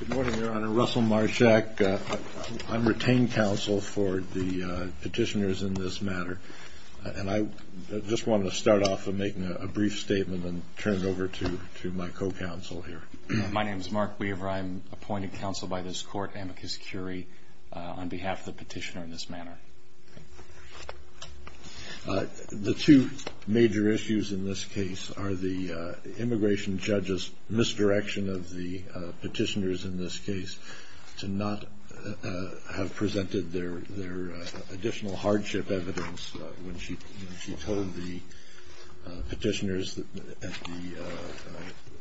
Good morning, Your Honor. Russell Marchak. I'm retained counsel for the petitioners in this matter. And I just wanted to start off by making a brief statement and turn it over to my co-counsel here. My name is Mark Weaver. I'm appointed counsel by this Court, amicus curiae, on behalf of the petitioner in this matter. The two major issues in this case are the immigration judge's misdirection of the petitioners in this case to not have presented their additional hardship evidence when she told the petitioners at the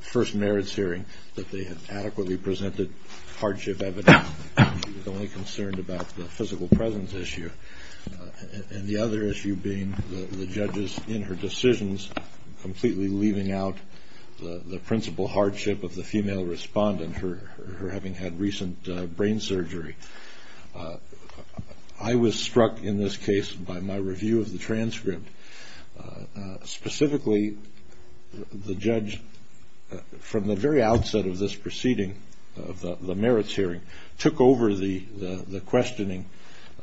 first merits hearing that they had adequately presented hardship evidence. She was only concerned about the physical presence issue. And the other issue being the judge's, in her decisions, completely leaving out the principal hardship of the female respondent, her having had recent brain surgery. I was struck in this case by my review of the transcript. Specifically, the judge, from the very outset of this proceeding, of the merits hearing, took over the questioning.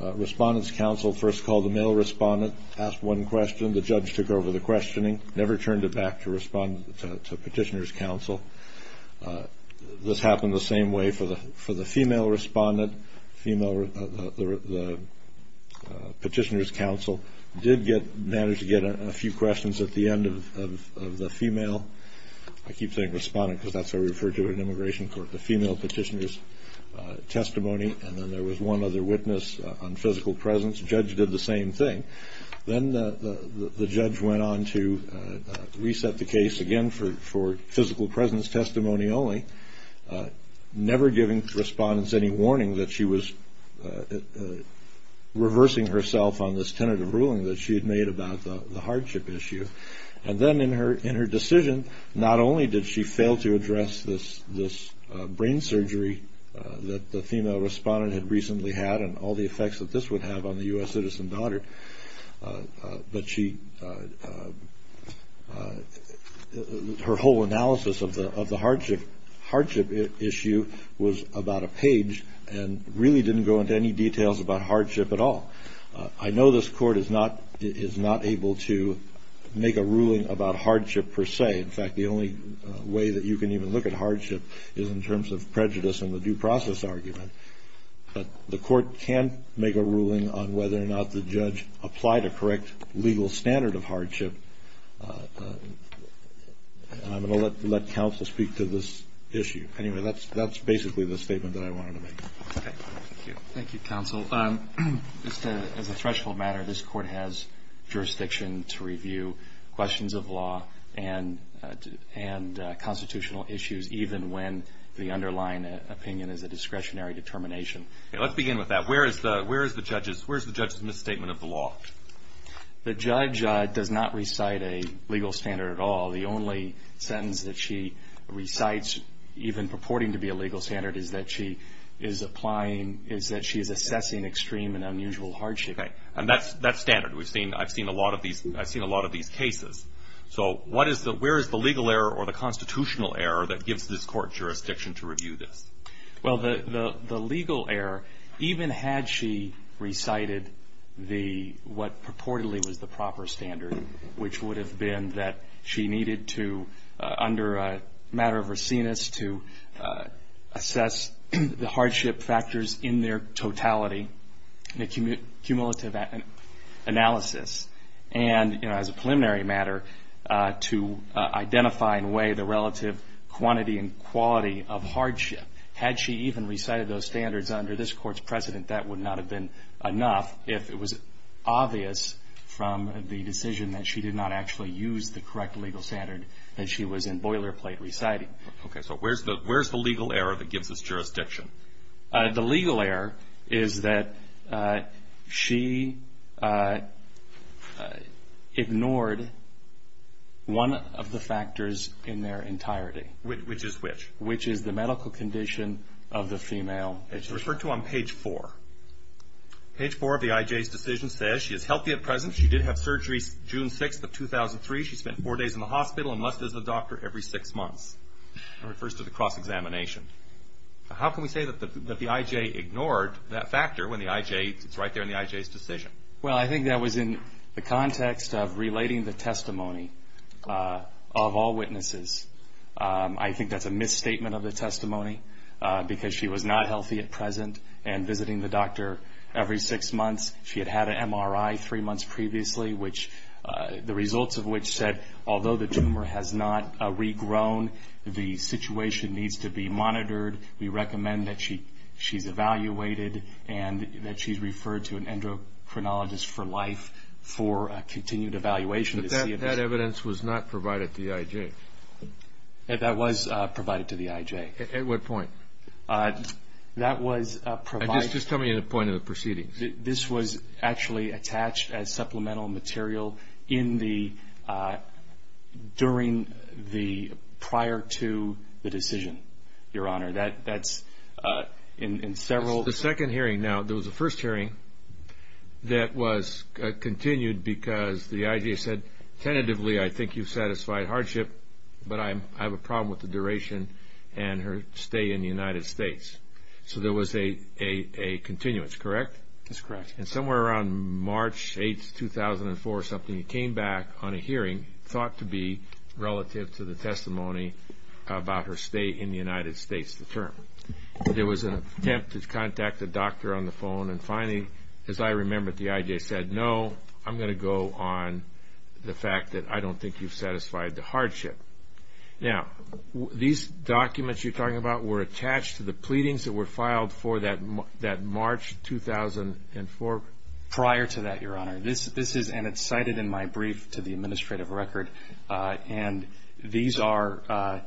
Respondent's counsel first called the male respondent, asked one question, the judge took over the questioning, never turned it back to petitioner's counsel. This happened the same way for the female respondent. The petitioner's counsel did manage to get a few questions at the end of the female, I keep saying respondent, because that's how we refer to it in immigration court, the female petitioner's testimony, and then there was one other witness on physical presence. The judge did the same thing. Then the judge went on to reset the case again for physical presence testimony only, never giving respondent's any warning that she was reversing herself on this tentative ruling that she had made about the hardship issue. And then in her decision, not only did she fail to address this brain surgery that the female respondent had recently had and all the effects that this would have on the U.S. citizen daughter, but her whole analysis of the hardship issue was about a page and really didn't go into any details about hardship at all. I know this court is not able to make a ruling about hardship per se. In fact, the only way that you can even look at hardship is in terms of prejudice and the due process argument. But the court can make a ruling on whether or not the judge applied a correct legal standard of hardship, and I'm going to let counsel speak to this issue. Anyway, that's basically the statement that I wanted to make. Thank you, counsel. As a threshold matter, this court has jurisdiction to review questions of law and constitutional issues, even when the underlying opinion is a discretionary determination. Let's begin with that. Where is the judge's misstatement of the law? The judge does not recite a legal standard at all. The only sentence that she recites, even purporting to be a legal standard, is that she is assessing extreme and unusual hardship. And that's standard. I've seen a lot of these cases. So where is the legal error or the constitutional error that gives this court jurisdiction to review this? Well, the legal error, even had she recited what purportedly was the proper standard, which would have been that she needed to, under a matter of raciness, to assess the hardship factors in their totality in a cumulative analysis. And, you know, as a preliminary matter, to identify in a way the relative quantity and quality of hardship. Had she even recited those standards under this court's precedent, that would not have been enough, if it was obvious from the decision that she did not actually use the correct legal standard that she was in boilerplate reciting. Okay. So where's the legal error that gives us jurisdiction? The legal error is that she ignored one of the factors in their entirety. Which is which? Which is the medical condition of the female. It's referred to on page four. Page four of the IJ's decision says she is healthy at present. She did have surgery June 6th of 2003. She spent four days in the hospital and must visit a doctor every six months. That refers to the cross-examination. How can we say that the IJ ignored that factor when the IJ is right there in the IJ's decision? Well, I think that was in the context of relating the testimony of all witnesses. I think that's a misstatement of the testimony because she was not healthy at present and visiting the doctor every six months. She had had an MRI three months previously, which the results of which said, although the tumor has not regrown, the situation needs to be monitored. We recommend that she's evaluated and that she's referred to an endocrinologist for life for a continued evaluation. But that evidence was not provided to the IJ. That was provided to the IJ. At what point? That was provided. Just tell me the point of the proceedings. This was actually attached as supplemental material during the prior to the decision, Your Honor. That's in several. The second hearing. Now, there was a first hearing that was continued because the IJ said tentatively, I think you've satisfied hardship, but I have a problem with the duration and her stay in the United States. So there was a continuance, correct? That's correct. And somewhere around March 8, 2004 or something, you came back on a hearing thought to be relative to the testimony about her stay in the United States, the term. There was an attempt to contact the doctor on the phone and finally, as I remember it, the IJ said, no, I'm going to go on the fact that I don't think you've satisfied the hardship. Now, these documents you're talking about were attached to the pleadings that were filed for that March 2004? Prior to that, Your Honor. This is and it's cited in my brief to the administrative record. And these are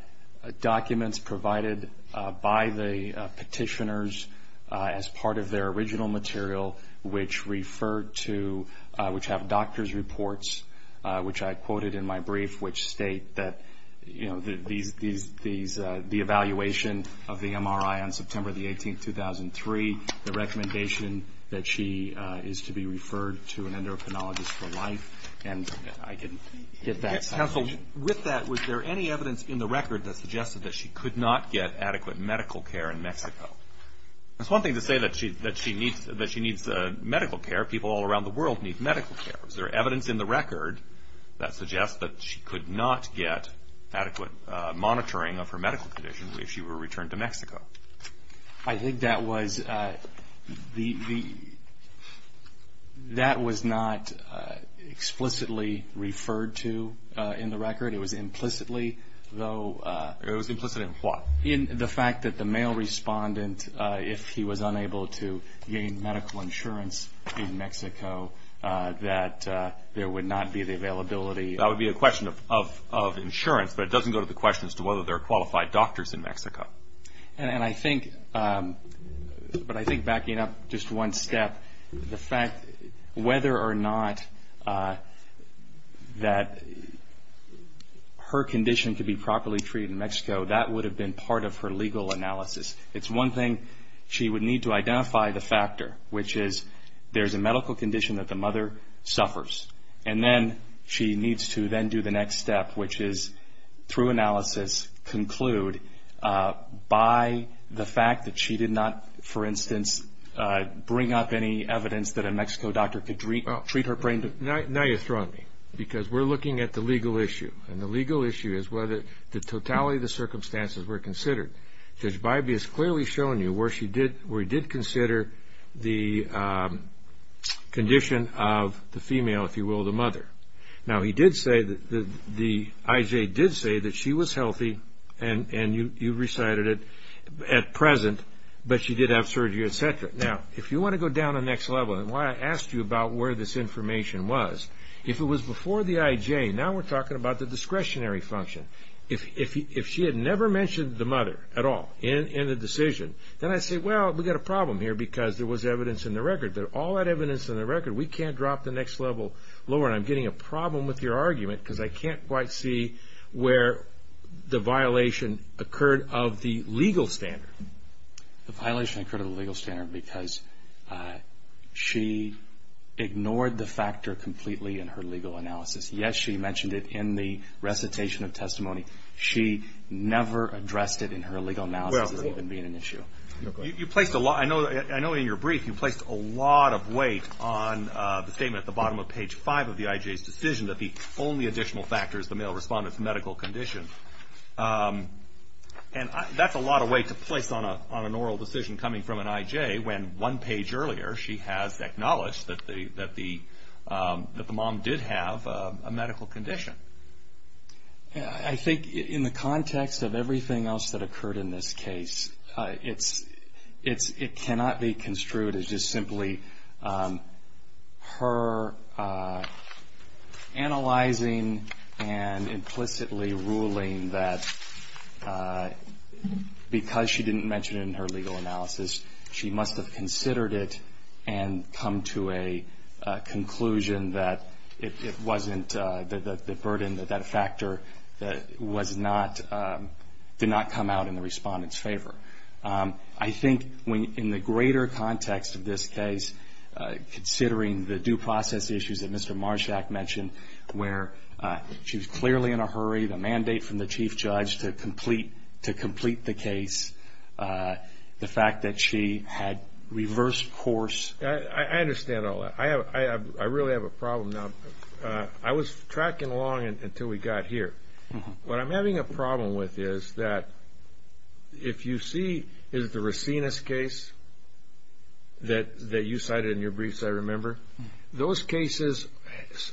documents provided by the petitioners as part of their original material, which referred to, which have doctor's reports, which I quoted in my brief, which state that the evaluation of the MRI on September the 18th, 2003, the recommendation that she is to be referred to an endocrinologist for life. And I can get that. Counsel, with that, was there any evidence in the record that suggested that she could not get adequate medical care in Mexico? It's one thing to say that she needs medical care. People all around the world need medical care. Was there evidence in the record that suggests that she could not get adequate monitoring of her medical condition if she were returned to Mexico? I think that was the, that was not explicitly referred to in the record. It was implicitly, though. It was implicit in what? In the fact that the mail respondent, if he was unable to gain medical insurance in Mexico, that there would not be the availability. That would be a question of insurance, but it doesn't go to the question as to whether there are qualified doctors in Mexico. And I think, but I think backing up just one step, the fact whether or not that her condition could be properly treated in Mexico, that would have been part of her legal analysis. It's one thing she would need to identify the factor, which is there's a medical condition that the mother suffers, and then she needs to then do the next step, which is, through analysis, conclude by the fact that she did not, for instance, bring up any evidence that a Mexico doctor could treat her brain. Now you're throwing me, because we're looking at the legal issue, and the legal issue is whether the totality of the circumstances were considered. Judge Bybee has clearly shown you where she did, where he did consider the condition of the female, if you will, the mother. Now he did say, the IJ did say that she was healthy, and you recited it at present, but she did have surgery, etc. Now, if you want to go down the next level, and why I asked you about where this information was, if it was before the IJ, now we're talking about the discretionary function. If she had never mentioned the mother at all in the decision, then I'd say, well, we've got a problem here, because there was evidence in the record. There's all that evidence in the record. We can't drop the next level lower, and I'm getting a problem with your argument, because I can't quite see where the violation occurred of the legal standard. The violation occurred of the legal standard because she ignored the factor completely in her legal analysis. Yes, she mentioned it in the recitation of testimony. She never addressed it in her legal analysis as even being an issue. I know in your brief you placed a lot of weight on the statement at the bottom of page 5 of the IJ's decision that the only additional factor is the male respondent's medical condition, and that's a lot of weight to place on an oral decision coming from an IJ, when one page earlier she has acknowledged that the mom did have a medical condition. I think in the context of everything else that occurred in this case, it cannot be construed as just simply her analyzing and implicitly ruling that because she didn't mention it in her legal analysis, she must have considered it and come to a conclusion that it wasn't the burden, that that factor did not come out in the respondent's favor. I think in the greater context of this case, considering the due process issues that Mr. Marshak mentioned where she was clearly in a hurry, the mandate from the chief judge to complete the case, the fact that she had reversed course. I understand all that. I really have a problem now. I was tracking along until we got here. What I'm having a problem with is that if you see the Racinus case that you cited in your briefs, I remember, those cases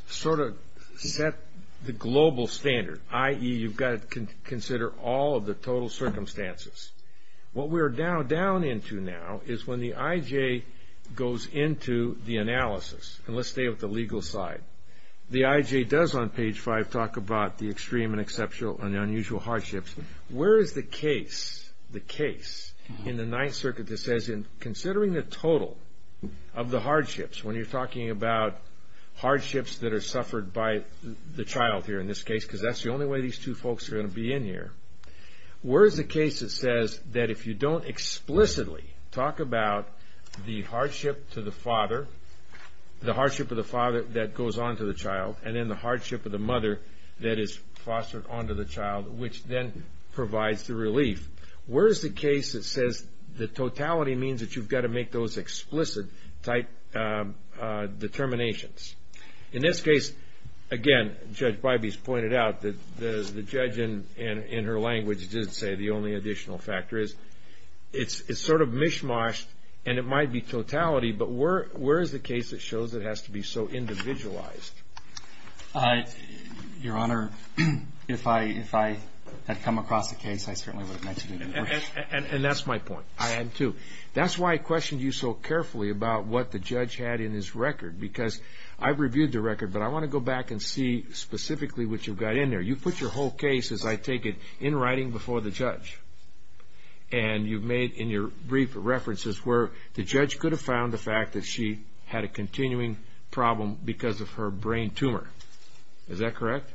sort of set the global standard, i.e., you've got to consider all of the total circumstances. What we're down into now is when the I.J. goes into the analysis, and let's stay with the legal side, the I.J. does on page five talk about the extreme and exceptional and unusual hardships. Where is the case in the Ninth Circuit that says in considering the total of the hardships, when you're talking about hardships that are suffered by the child here in this case because that's the only way these two folks are going to be in here, where is the case that says that if you don't explicitly talk about the hardship to the father, the hardship of the father that goes on to the child, and then the hardship of the mother that is fostered onto the child, which then provides the relief, where is the case that says the totality means that you've got to make those explicit determinations? In this case, again, Judge Bybee's pointed out that the judge in her language did say the only additional factor is it's sort of mish-moshed, and it might be totality, but where is the case that shows it has to be so individualized? Your Honor, if I had come across the case, I certainly would have mentioned it. And that's my point. I am, too. That's why I questioned you so carefully about what the judge had in his record because I've reviewed the record, but I want to go back and see specifically what you've got in there. You put your whole case, as I take it, in writing before the judge, and you've made in your brief references where the judge could have found the fact that she had a continuing problem because of her brain tumor. Is that correct?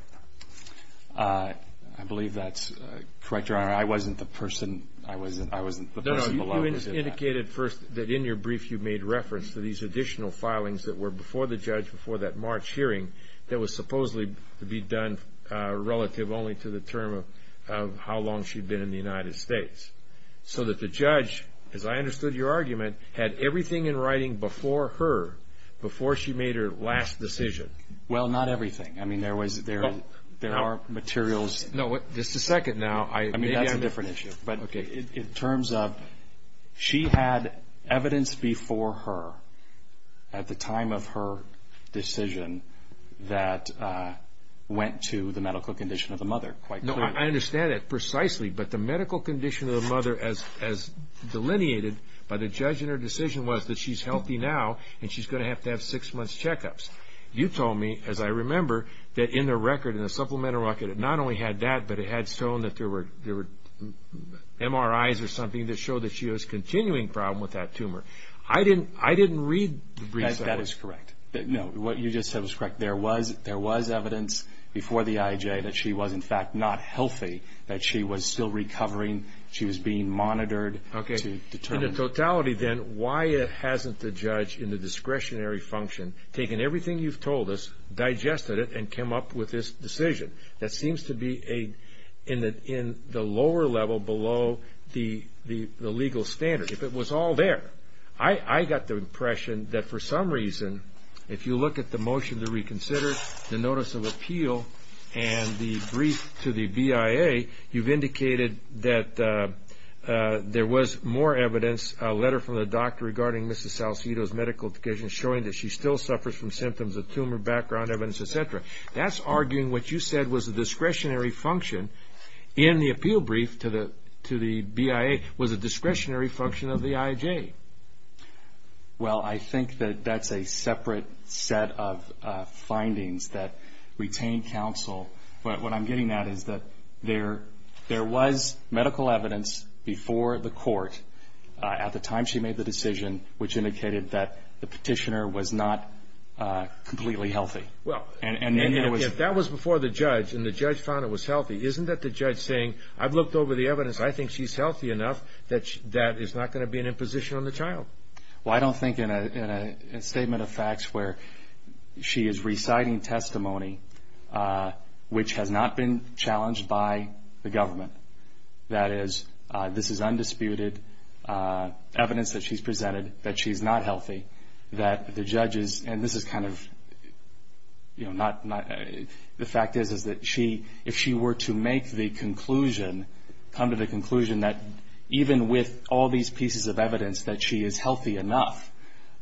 I believe that's correct, Your Honor. I wasn't the person below who did that. No, no, you indicated first that in your brief you made reference to these additional filings that were before the judge, before that March hearing, that was supposedly to be done relative only to the term of how long she'd been in the United States so that the judge, as I understood your argument, had everything in writing before her, before she made her last decision. Well, not everything. I mean, there are materials. No, just a second now. I mean, that's a different issue. Okay. In terms of she had evidence before her at the time of her decision that went to the medical condition of the mother, quite clearly. No, I understand that precisely, but the medical condition of the mother, as delineated by the judge in her decision, was that she's healthy now and she's going to have to have six months checkups. You told me, as I remember, that in the record, in the supplemental record, it not only had that, but it had shown that there were MRIs or something that showed that she was continuing problem with that tumor. I didn't read the brief. That is correct. No, what you just said was correct. There was evidence before the IJ that she was, in fact, not healthy, that she was still recovering. She was being monitored to determine. Okay. In the totality, then, why hasn't the judge, in the discretionary function, taken everything you've told us, digested it, and came up with this decision that seems to be in the lower level below the legal standard? If it was all there, I got the impression that for some reason, if you look at the motion to reconsider, the notice of appeal, and the brief to the BIA, you've indicated that there was more evidence, a letter from the doctor regarding Mrs. Salcedo's medical condition, showing that she still suffers from symptoms of tumor, background evidence, et cetera. That's arguing what you said was a discretionary function in the appeal brief to the BIA was a discretionary function of the IJ. Well, I think that that's a separate set of findings that retain counsel. What I'm getting at is that there was medical evidence before the court, at the time she made the decision, which indicated that the petitioner was not completely healthy. Well, if that was before the judge, and the judge found it was healthy, isn't that the judge saying, I've looked over the evidence, I think she's healthy enough that that is not going to be an imposition on the child? Well, I don't think in a statement of facts where she is reciting testimony which has not been challenged by the government, that is, this is undisputed evidence that she's presented that she's not healthy, that the judges, and this is kind of, you know, the fact is that if she were to make the conclusion, come to the conclusion that even with all these pieces of evidence that she is healthy enough,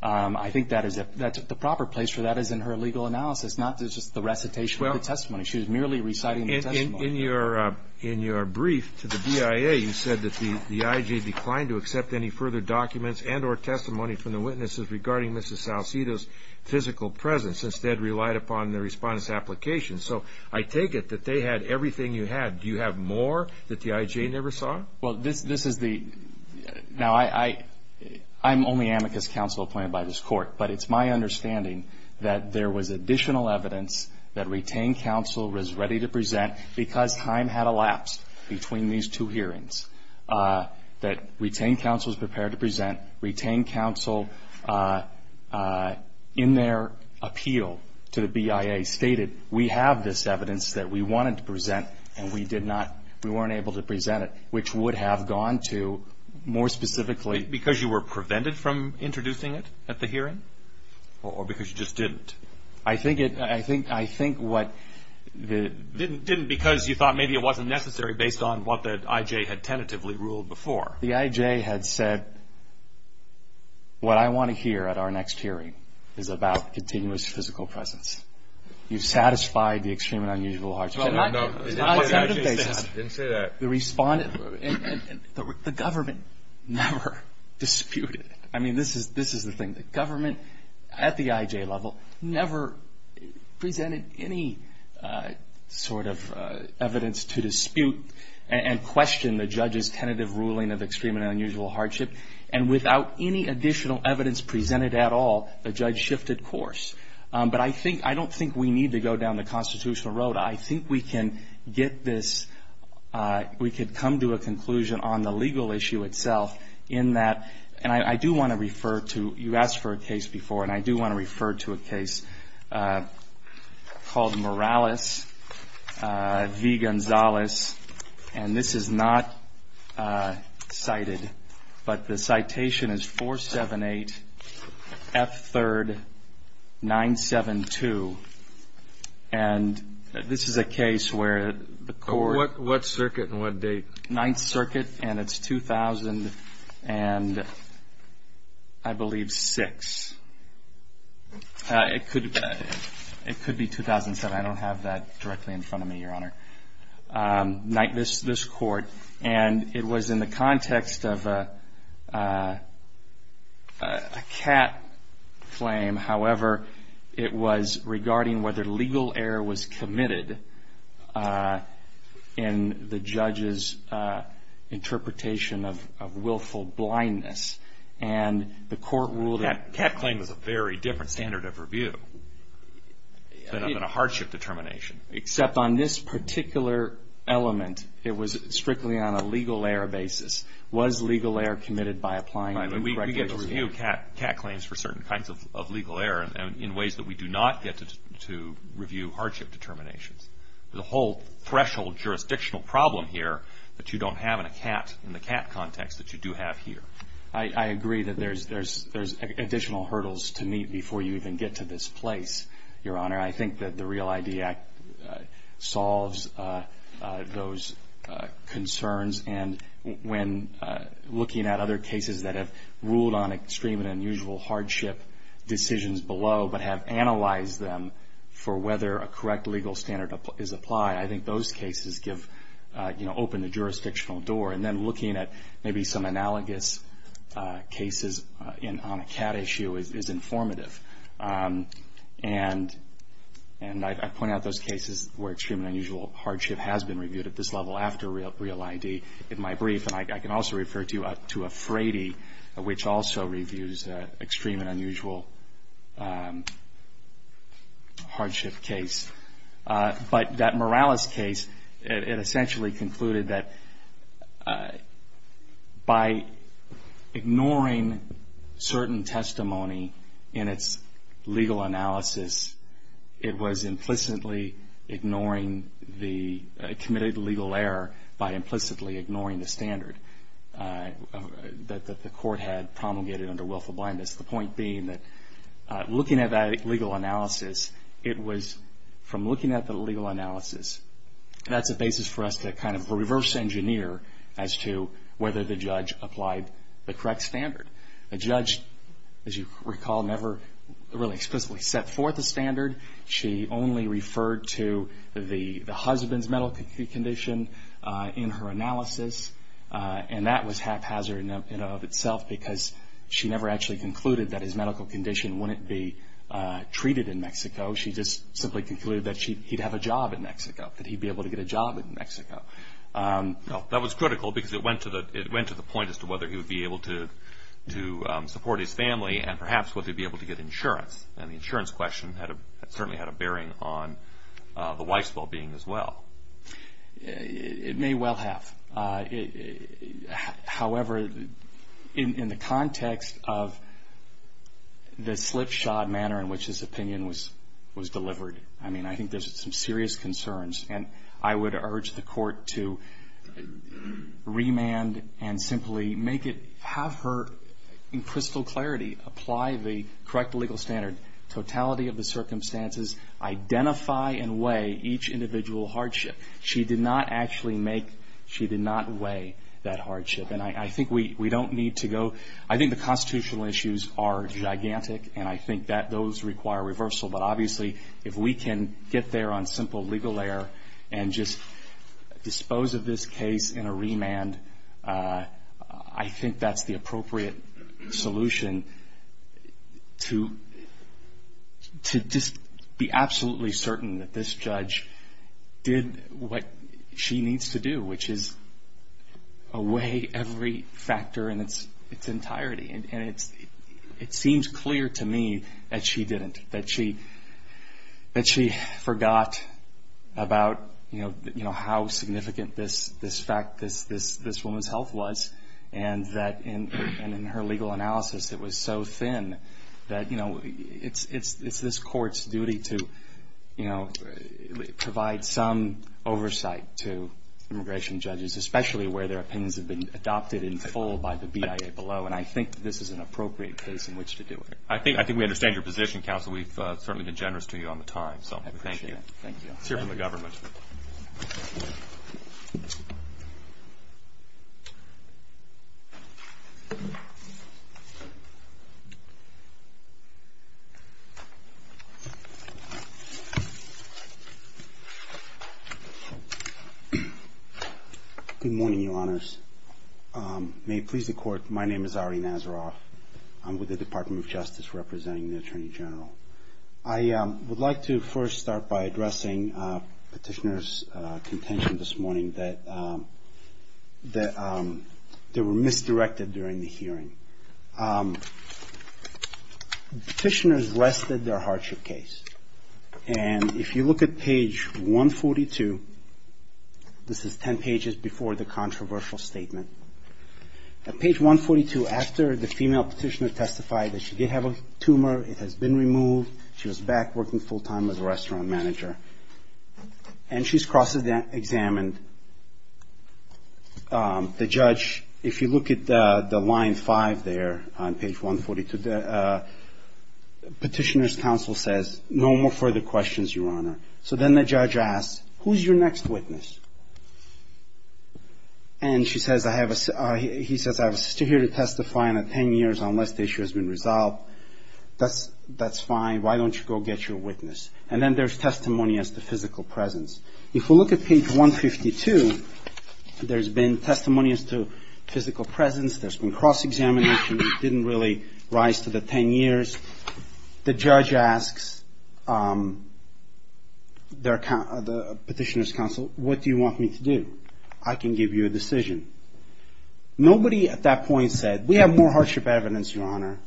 I think the proper place for that is in her legal analysis, not just the recitation of the testimony. She was merely reciting the testimony. In your brief to the BIA, you said that the IJ declined to accept any further documents and or testimony from the witnesses regarding Mrs. Salcedo's physical presence, instead relied upon the respondent's application. So I take it that they had everything you had. Do you have more that the IJ never saw? Well, this is the – now, I'm only amicus counsel appointed by this court, but it's my understanding that there was additional evidence that retained counsel was ready to present because time had elapsed between these two hearings, that retained counsel was prepared to present, retained counsel in their appeal to the BIA stated, we have this evidence that we wanted to present and we did not, we weren't able to present it, which would have gone to more specifically. Because you were prevented from introducing it at the hearing or because you just didn't? I think it – I think what the... Didn't because you thought maybe it wasn't necessary based on what the IJ had tentatively ruled before. The IJ had said, what I want to hear at our next hearing is about continuous physical presence. You've satisfied the extreme and unusual hearts of... No, no, no. I didn't say that. The government never disputed it. I mean, this is the thing. The government at the IJ level never presented any sort of evidence to dispute and question the judge's tentative ruling of extreme and unusual hardship. And without any additional evidence presented at all, the judge shifted course. But I don't think we need to go down the constitutional road. I think we can get this... We could come to a conclusion on the legal issue itself in that... And I do want to refer to... You asked for a case before, and I do want to refer to a case called Morales v. Gonzales. And this is not cited, but the citation is 478 F3rd 972. And this is a case where the court... What circuit and what date? Ninth Circuit, and it's 2006. It could be 2007. I don't have that directly in front of me, Your Honor. This court. And it was in the context of a CAT claim. However, it was regarding whether legal error was committed in the judge's interpretation of willful blindness. And the court ruled that... A CAT claim is a very different standard of review than a hardship determination. Except on this particular element, it was strictly on a legal error basis. Was legal error committed by applying... We get a review of CAT claims for certain kinds of legal error in ways that we do not get to review hardship determinations. There's a whole threshold jurisdictional problem here that you don't have in a CAT, in the CAT context, that you do have here. I agree that there's additional hurdles to meet before you even get to this place, Your Honor. I think that the REAL-ID Act solves those concerns. And when looking at other cases that have ruled on extreme and unusual hardship decisions below but have analyzed them for whether a correct legal standard is applied, I think those cases open a jurisdictional door. And then looking at maybe some analogous cases on a CAT issue is informative. And I point out those cases where extreme and unusual hardship has been reviewed at this level after REAL-ID in my brief. And I can also refer to a Frady, which also reviews extreme and unusual hardship case. But that Morales case, it essentially concluded that by ignoring certain testimony in its legal analysis, it was implicitly ignoring the committed legal error by implicitly ignoring the standard that the court had promulgated under willful blindness. The point being that looking at that legal analysis, it was from looking at the legal analysis, that's a basis for us to kind of reverse engineer as to whether the judge applied the correct standard. The judge, as you recall, never really explicitly set forth a standard. She only referred to the husband's medical condition in her analysis. And that was haphazard in and of itself because she never actually concluded that his medical condition wouldn't be treated in Mexico. She just simply concluded that he'd have a job in Mexico, that he'd be able to get a job in Mexico. That was critical because it went to the point as to whether he would be able to support his family and perhaps whether he'd be able to get insurance. And the insurance question certainly had a bearing on the wife's well-being as well. It may well have. However, in the context of the slipshod manner in which his opinion was delivered, I mean, I think there's some serious concerns. And I would urge the court to remand and simply make it, have her, in crystal clarity, apply the correct legal standard, totality of the circumstances, identify and weigh each individual hardship. She did not actually make, she did not weigh that hardship. And I think we don't need to go, I think the constitutional issues are gigantic, and I think that those require reversal. But obviously, if we can get there on simple legal air and just dispose of this case in a remand, I think that's the appropriate solution to just be absolutely certain that this judge did what she needs to do, which is weigh every factor in its entirety. And it seems clear to me that she didn't, that she forgot about, you know, how significant this fact, this woman's health was, and that in her legal analysis, it was so thin that, you know, it's this court's duty to, you know, provide some oversight to immigration judges, especially where their opinions have been adopted in full by the BIA below. And I think this is an appropriate case in which to do it. I think we understand your position, counsel. We've certainly been generous to you on the time. So thank you. Thank you. Let's hear from the government. Good morning, Your Honors. May it please the Court, my name is Ari Nazaroff. I'm with the Department of Justice representing the Attorney General. I would like to first start by addressing Petitioner's contention this morning that they were misdirected during the hearing. Petitioners rested their hardship case. And if you look at page 142, this is 10 pages before the controversial statement. At page 142, after the female petitioner testified that she did have a tumor, it has been removed, she was back working full time as a restaurant manager. And she's cross-examined. The judge, if you look at the line five there on page 142, Petitioner's counsel says, no more further questions, Your Honor. So then the judge asks, who's your next witness? And she says, I have a sister here to testify in 10 years unless the issue has been resolved. That's fine. Why don't you go get your witness? And then there's testimony as to physical presence. If we look at page 152, there's been testimony as to physical presence. There's been cross-examination. It didn't really rise to the 10 years. The judge asks the Petitioner's counsel, what do you want me to do? I can give you a decision. Nobody at that point said, we have more hardship evidence, Your Honor.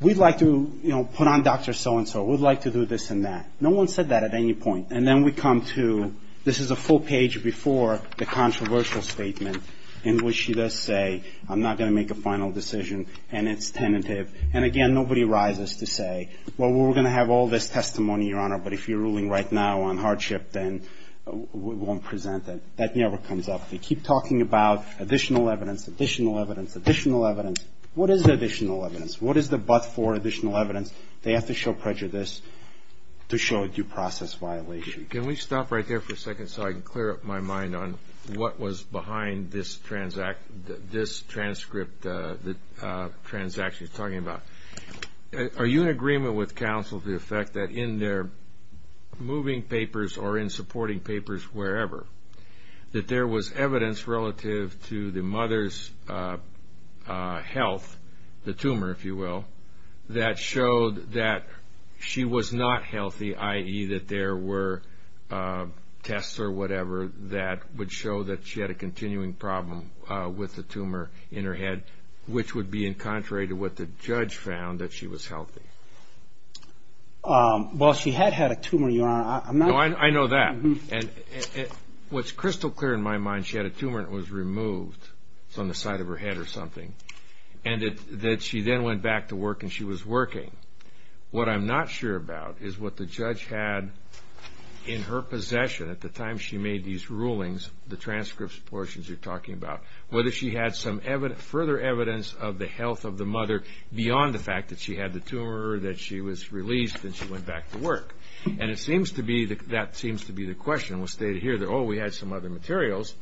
We'd like to put on Dr. So-and-so. We'd like to do this and that. No one said that at any point. And then we come to, this is a full page before the controversial statement in which she does say, I'm not going to make a final decision, and it's tentative. And again, nobody rises to say, well, we're going to have all this testimony, Your Honor, but if you're ruling right now on hardship, then we won't present it. That never comes up. They keep talking about additional evidence, additional evidence, additional evidence. What is the additional evidence? What is the but for additional evidence? They have to show prejudice to show a due process violation. Can we stop right there for a second so I can clear up my mind on what was behind this transaction you're talking about? Are you in agreement with counsel to the effect that in their moving papers or in supporting papers wherever, that there was evidence relative to the mother's health, the tumor, if you will, that showed that she was not healthy, i.e., that there were tests or whatever that would show that she had a continuing problem with the tumor in her head, which would be in contrary to what the judge found, that she was healthy? Well, she had had a tumor, Your Honor. No, I know that. What's crystal clear in my mind, she had a tumor and it was removed from the side of her head or something. And that she then went back to work and she was working. What I'm not sure about is what the judge had in her possession at the time she made these rulings, the transcripts portions you're talking about, whether she had some further evidence of the health of the mother beyond the fact that she had the tumor or that she was released and she went back to work. And it seems to be that that seems to be the question. It was stated here that, oh, we had some other materials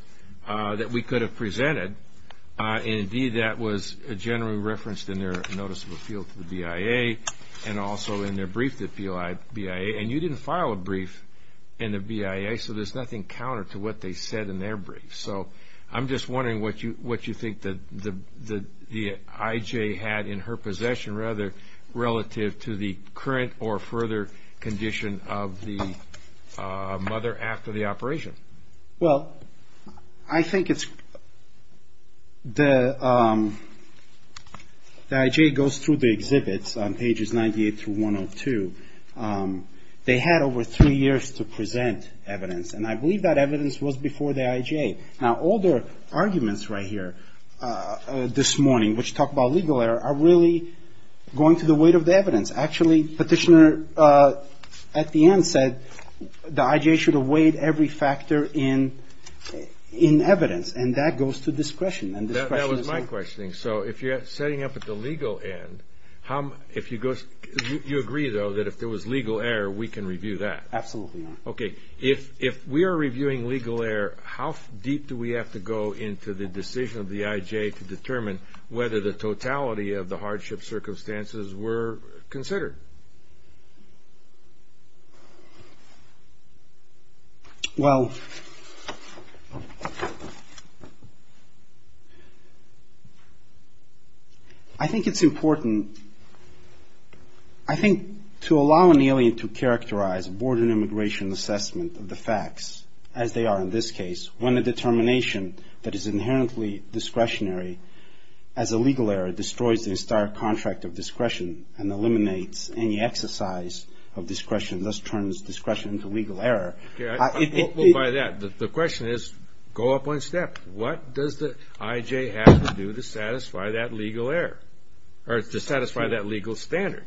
that we could have presented. And, indeed, that was generally referenced in their notice of appeal to the BIA and also in their brief to the BIA. And you didn't file a brief in the BIA, so there's nothing counter to what they said in their brief. So I'm just wondering what you think the IJ had in her possession relative to the current or further condition of the mother after the operation. Well, I think it's the IJ goes through the exhibits on pages 98 through 102. They had over three years to present evidence. And I believe that evidence was before the IJ. Now, all their arguments right here this morning, which talk about legal error, Actually, Petitioner at the end said the IJ should have weighed every factor in evidence. And that goes to discretion. That was my question. So if you're setting up at the legal end, you agree, though, that if there was legal error, we can review that? Absolutely. Okay. If we are reviewing legal error, how deep do we have to go into the decision of the IJ to determine whether the totality of the hardship circumstances were considered? Well, I think it's important. I think to allow an alien to characterize border immigration assessment of the facts, as they are in this case, when the determination that is inherently discretionary, as a legal error, destroys the entire contract of discretion and eliminates any exercise of discretion, thus turns discretion into legal error. Well, by that, the question is, go up one step. What does the IJ have to do to satisfy that legal error or to satisfy that legal standard?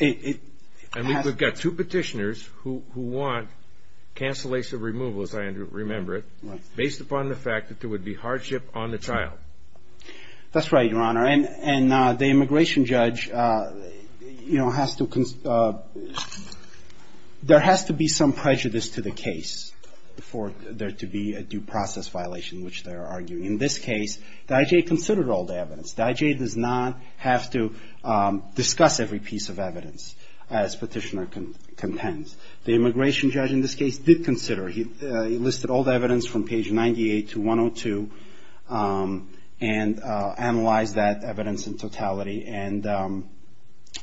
And we've got two Petitioners who want cancellation of removal, as I remember it, based upon the fact that there would be hardship on the child. That's right, Your Honor. And the immigration judge, you know, has to be some prejudice to the case for there to be a due process violation, which they are arguing. In this case, the IJ considered all the evidence. The IJ does not have to discuss every piece of evidence, as Petitioner contends. The immigration judge in this case did consider. He listed all the evidence from page 98 to 102 and analyzed that evidence in totality and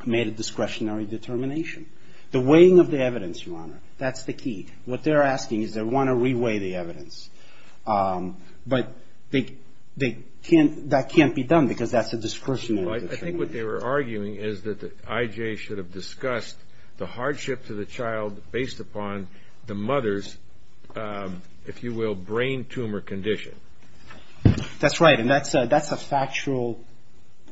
made a discretionary determination. The weighing of the evidence, Your Honor, that's the key. What they're asking is they want to re-weigh the evidence. But that can't be done because that's a discretionary determination. I think what they were arguing is that the IJ should have discussed the hardship to the child based upon the mother's, if you will, brain tumor condition. That's right, and that's a factual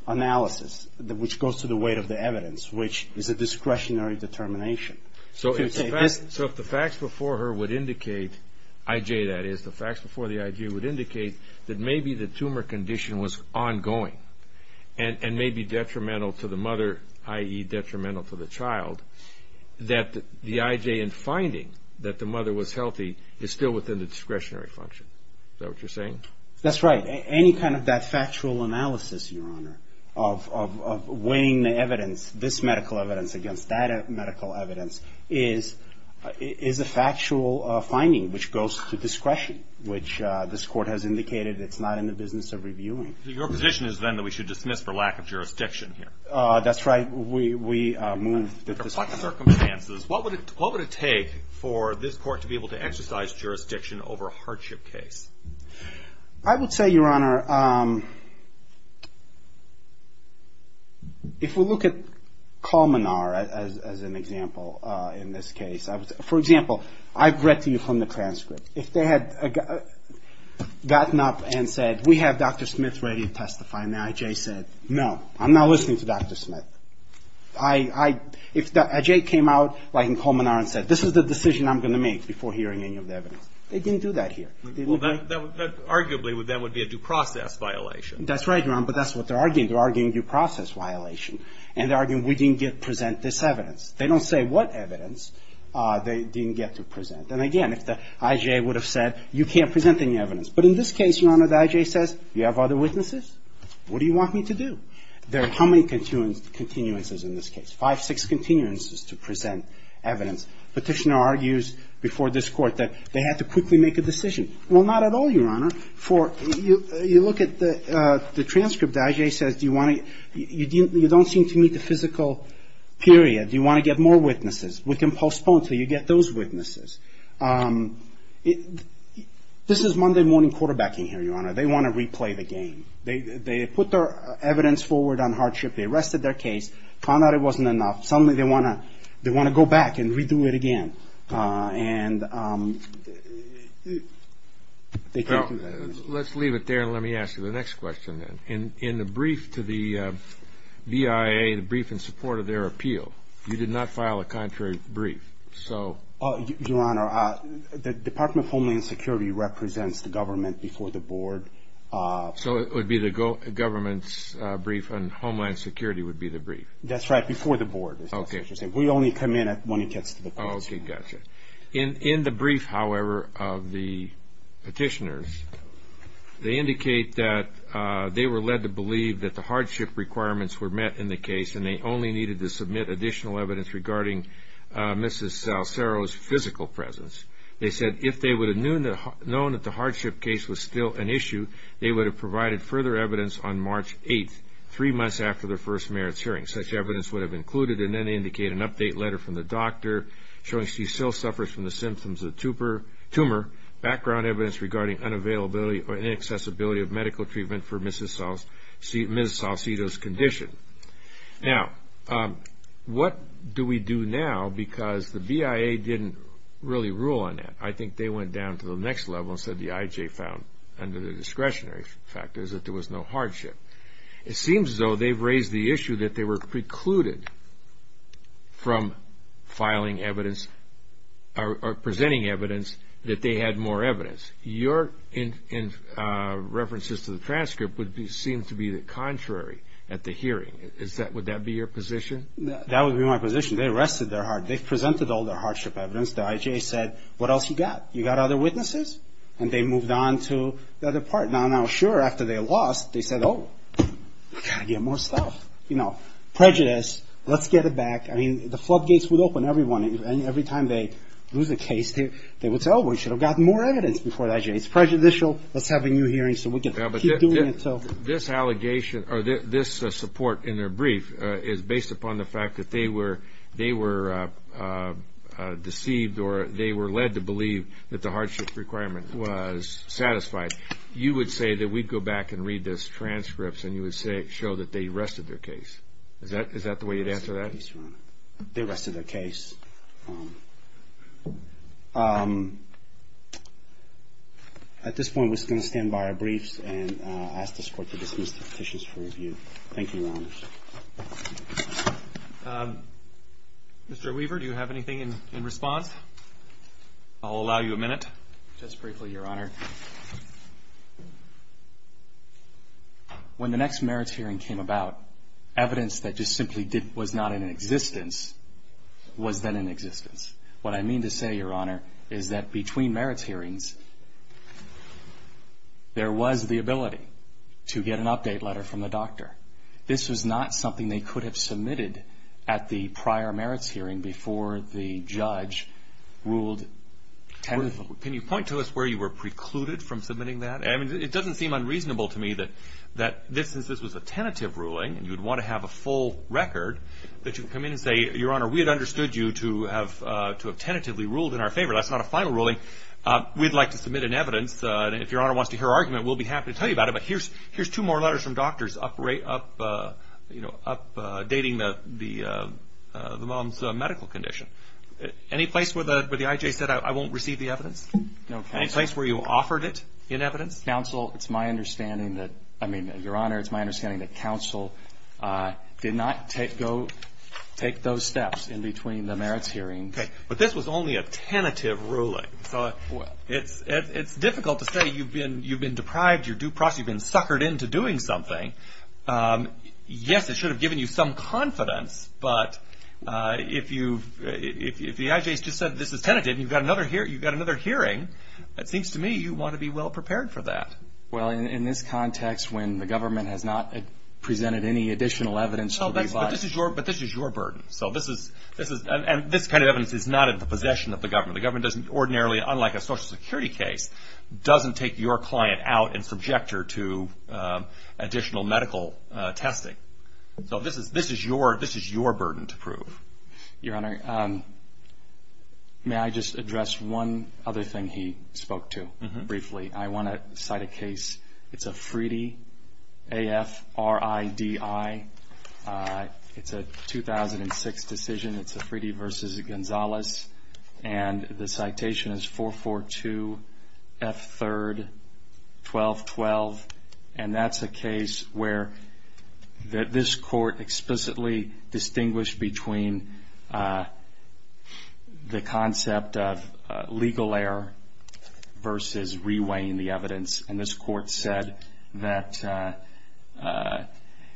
analysis which goes to the weight of the evidence, which is a discretionary determination. So if the facts before her would indicate, IJ that is, the facts before the IJ would indicate, that maybe the tumor condition was ongoing and may be detrimental to the mother, i.e. detrimental to the child, that the IJ in finding that the mother was healthy is still within the discretionary function. Is that what you're saying? That's right. Any kind of that factual analysis, Your Honor, of weighing the evidence, this medical evidence against that medical evidence, is a factual finding which goes to discretion, which this Court has indicated it's not in the business of reviewing. So your position is then that we should dismiss for lack of jurisdiction here? That's right. We move. Under what circumstances? What would it take for this Court to be able to exercise jurisdiction over a hardship case? I would say, Your Honor, if we look at Colmenar as an example in this case, for example, I've read to you from the transcript. If they had gotten up and said, we have Dr. Smith ready to testify, and the IJ said, no, I'm not listening to Dr. Smith. If the IJ came out in Colmenar and said, this is the decision I'm going to make before hearing any of the evidence, they didn't do that here. Arguably, that would be a due process violation. That's right, Your Honor. But that's what they're arguing. They're arguing due process violation. And they're arguing we didn't present this evidence. They don't say what evidence they didn't get to present. And again, if the IJ would have said, you can't present any evidence. But in this case, Your Honor, the IJ says, you have other witnesses? What do you want me to do? There are how many continuances in this case? Five, six continuances to present evidence. Petitioner argues before this Court that they had to quickly make a decision. Well, not at all, Your Honor. You look at the transcript. The IJ says, you don't seem to meet the physical period. Do you want to get more witnesses? We can postpone until you get those witnesses. This is Monday morning quarterbacking here, Your Honor. They want to replay the game. They put their evidence forward on hardship. They arrested their case, found out it wasn't enough. Suddenly, they want to go back and redo it again. Well, let's leave it there, and let me ask you the next question then. In the brief to the BIA, the brief in support of their appeal, you did not file a contrary brief. Your Honor, the Department of Homeland Security represents the government before the board. So it would be the government's brief, and Homeland Security would be the brief? That's right, before the board. We only come in when it gets to the courts. Okay, gotcha. In the brief, however, of the petitioners, they indicate that they were led to believe that the hardship requirements were met in the case, and they only needed to submit additional evidence regarding Mrs. Salcero's physical presence. They said if they would have known that the hardship case was still an issue, they would have provided further evidence on March 8th, three months after the first merits hearing. Such evidence would have included and then indicate an update letter from the doctor showing she still suffers from the symptoms of a tumor, background evidence regarding unavailability or inaccessibility of medical treatment for Mrs. Salcero's condition. Now, what do we do now? Because the BIA didn't really rule on that. I think they went down to the next level and said the IJ found, under the discretionary factors, that there was no hardship. It seems as though they've raised the issue that they were precluded from filing evidence or presenting evidence that they had more evidence. Your references to the transcript would seem to be the contrary at the hearing. Would that be your position? That would be my position. They arrested their hardship. They presented all their hardship evidence. The IJ said, what else you got? You got other witnesses? And they moved on to the other part. Now, sure, after they lost, they said, oh, we've got to get more stuff. Prejudice. Let's get it back. I mean, the floodgates would open. Every time they lose a case, they would say, oh, we should have gotten more evidence before the IJ. It's prejudicial. Let's have a new hearing so we can keep doing it. This allegation or this support in their brief is based upon the fact that they were deceived or they were led to believe that the hardship requirement was satisfied. You would say that we'd go back and read those transcripts and you would show that they arrested their case. Is that the way you'd answer that? They arrested their case. At this point, we're just going to stand by our briefs and ask this Court to dismiss the petitions for review. Thank you, Your Honors. Mr. Weaver, do you have anything in response? I'll allow you a minute. Just briefly, Your Honor. When the next merits hearing came about, evidence that just simply was not in existence was then in existence. What I mean to say, Your Honor, is that between merits hearings, there was the ability to get an update letter from the doctor. This was not something they could have submitted at the prior merits hearing before the judge ruled tentatively. Can you point to us where you were precluded from submitting that? It doesn't seem unreasonable to me that since this was a tentative ruling and you'd want to have a full record, that you come in and say, Your Honor, we had understood you to have tentatively ruled in our favor. That's not a final ruling. We'd like to submit an evidence. If Your Honor wants to hear our argument, we'll be happy to tell you about it. But here's two more letters from doctors dating the mom's medical condition. Any place where the I.J. said, I won't receive the evidence? No, Counsel. Any place where you offered it in evidence? Counsel, it's my understanding that, I mean, Your Honor, it's my understanding that Counsel did not go take those steps in between the merits hearings. Okay. But this was only a tentative ruling. It's difficult to say you've been deprived, you're due process, you've been suckered into doing something. Yes, it should have given you some confidence, but if the I.J. has just said this is tentative, you've got another hearing, it seems to me you want to be well prepared for that. Well, in this context when the government has not presented any additional evidence. But this is your burden. And this kind of evidence is not in the possession of the government. The government doesn't ordinarily, unlike a Social Security case, doesn't take your client out and subject her to additional medical testing. So this is your burden to prove. Your Honor, may I just address one other thing he spoke to briefly? I want to cite a case. It's a Fridi, A-F-R-I-D-I. It's a 2006 decision. It's a Fridi v. Gonzalez. And the citation is 442 F-3-12-12. And that's a case where this court explicitly distinguished between the concept of legal error versus reweighing the evidence. And this court said that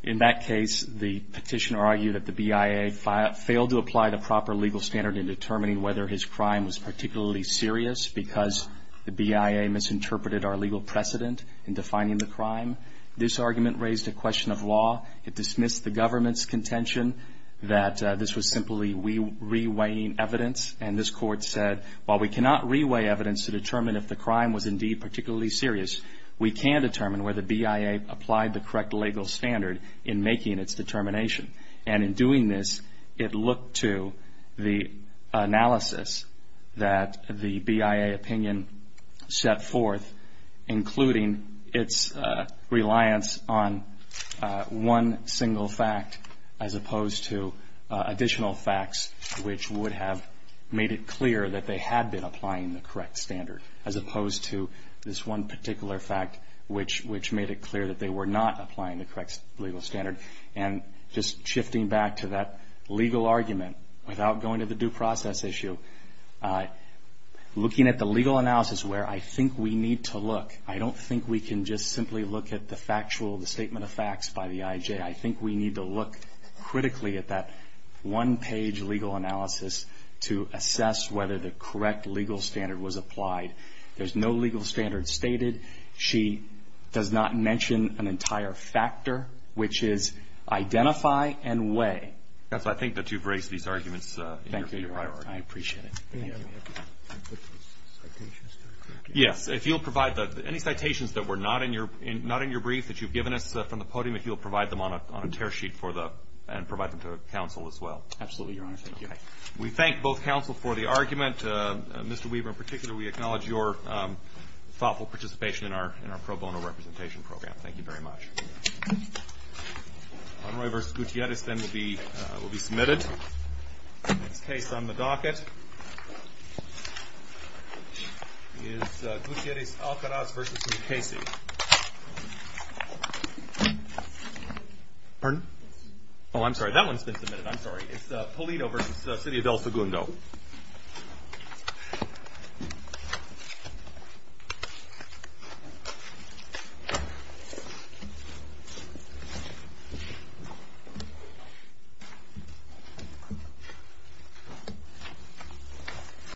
in that case the petitioner argued that the BIA failed to apply the proper legal standard in determining whether his crime was particularly serious because the BIA misinterpreted our legal precedent in defining the crime. This argument raised a question of law. It dismissed the government's contention that this was simply reweighing evidence. And this court said, while we cannot reweigh evidence to determine if the crime was indeed particularly serious, we can determine whether BIA applied the correct legal standard in making its determination. And in doing this, it looked to the analysis that the BIA opinion set forth, including its reliance on one single fact as opposed to additional facts, which would have made it clear that they had been applying the correct standard, as opposed to this one particular fact, which made it clear that they were not applying the correct legal standard. And just shifting back to that legal argument, without going to the due process issue, looking at the legal analysis where I think we need to look, I don't think we can just simply look at the factual, the statement of facts by the IJ. I think we need to look critically at that one-page legal analysis to assess whether the correct legal standard was applied. There's no legal standard stated. She does not mention an entire factor, which is identify and weigh. That's why I think that you've raised these arguments. Thank you. I appreciate it. Yes. If you'll provide any citations that were not in your brief that you've given us from the podium, if you'll provide them on a tear sheet and provide them to counsel as well. Absolutely, Your Honor. Thank you. We thank both counsel for the argument. Mr. Weaver, in particular, we acknowledge your thoughtful participation in our pro bono representation program. Thank you very much. Monroy v. Gutierrez then will be submitted. Next case on the docket is Gutierrez-Alcaraz v. Mukasey. Pardon? Oh, I'm sorry. I'm sorry. It's Polito v. City of El Segundo.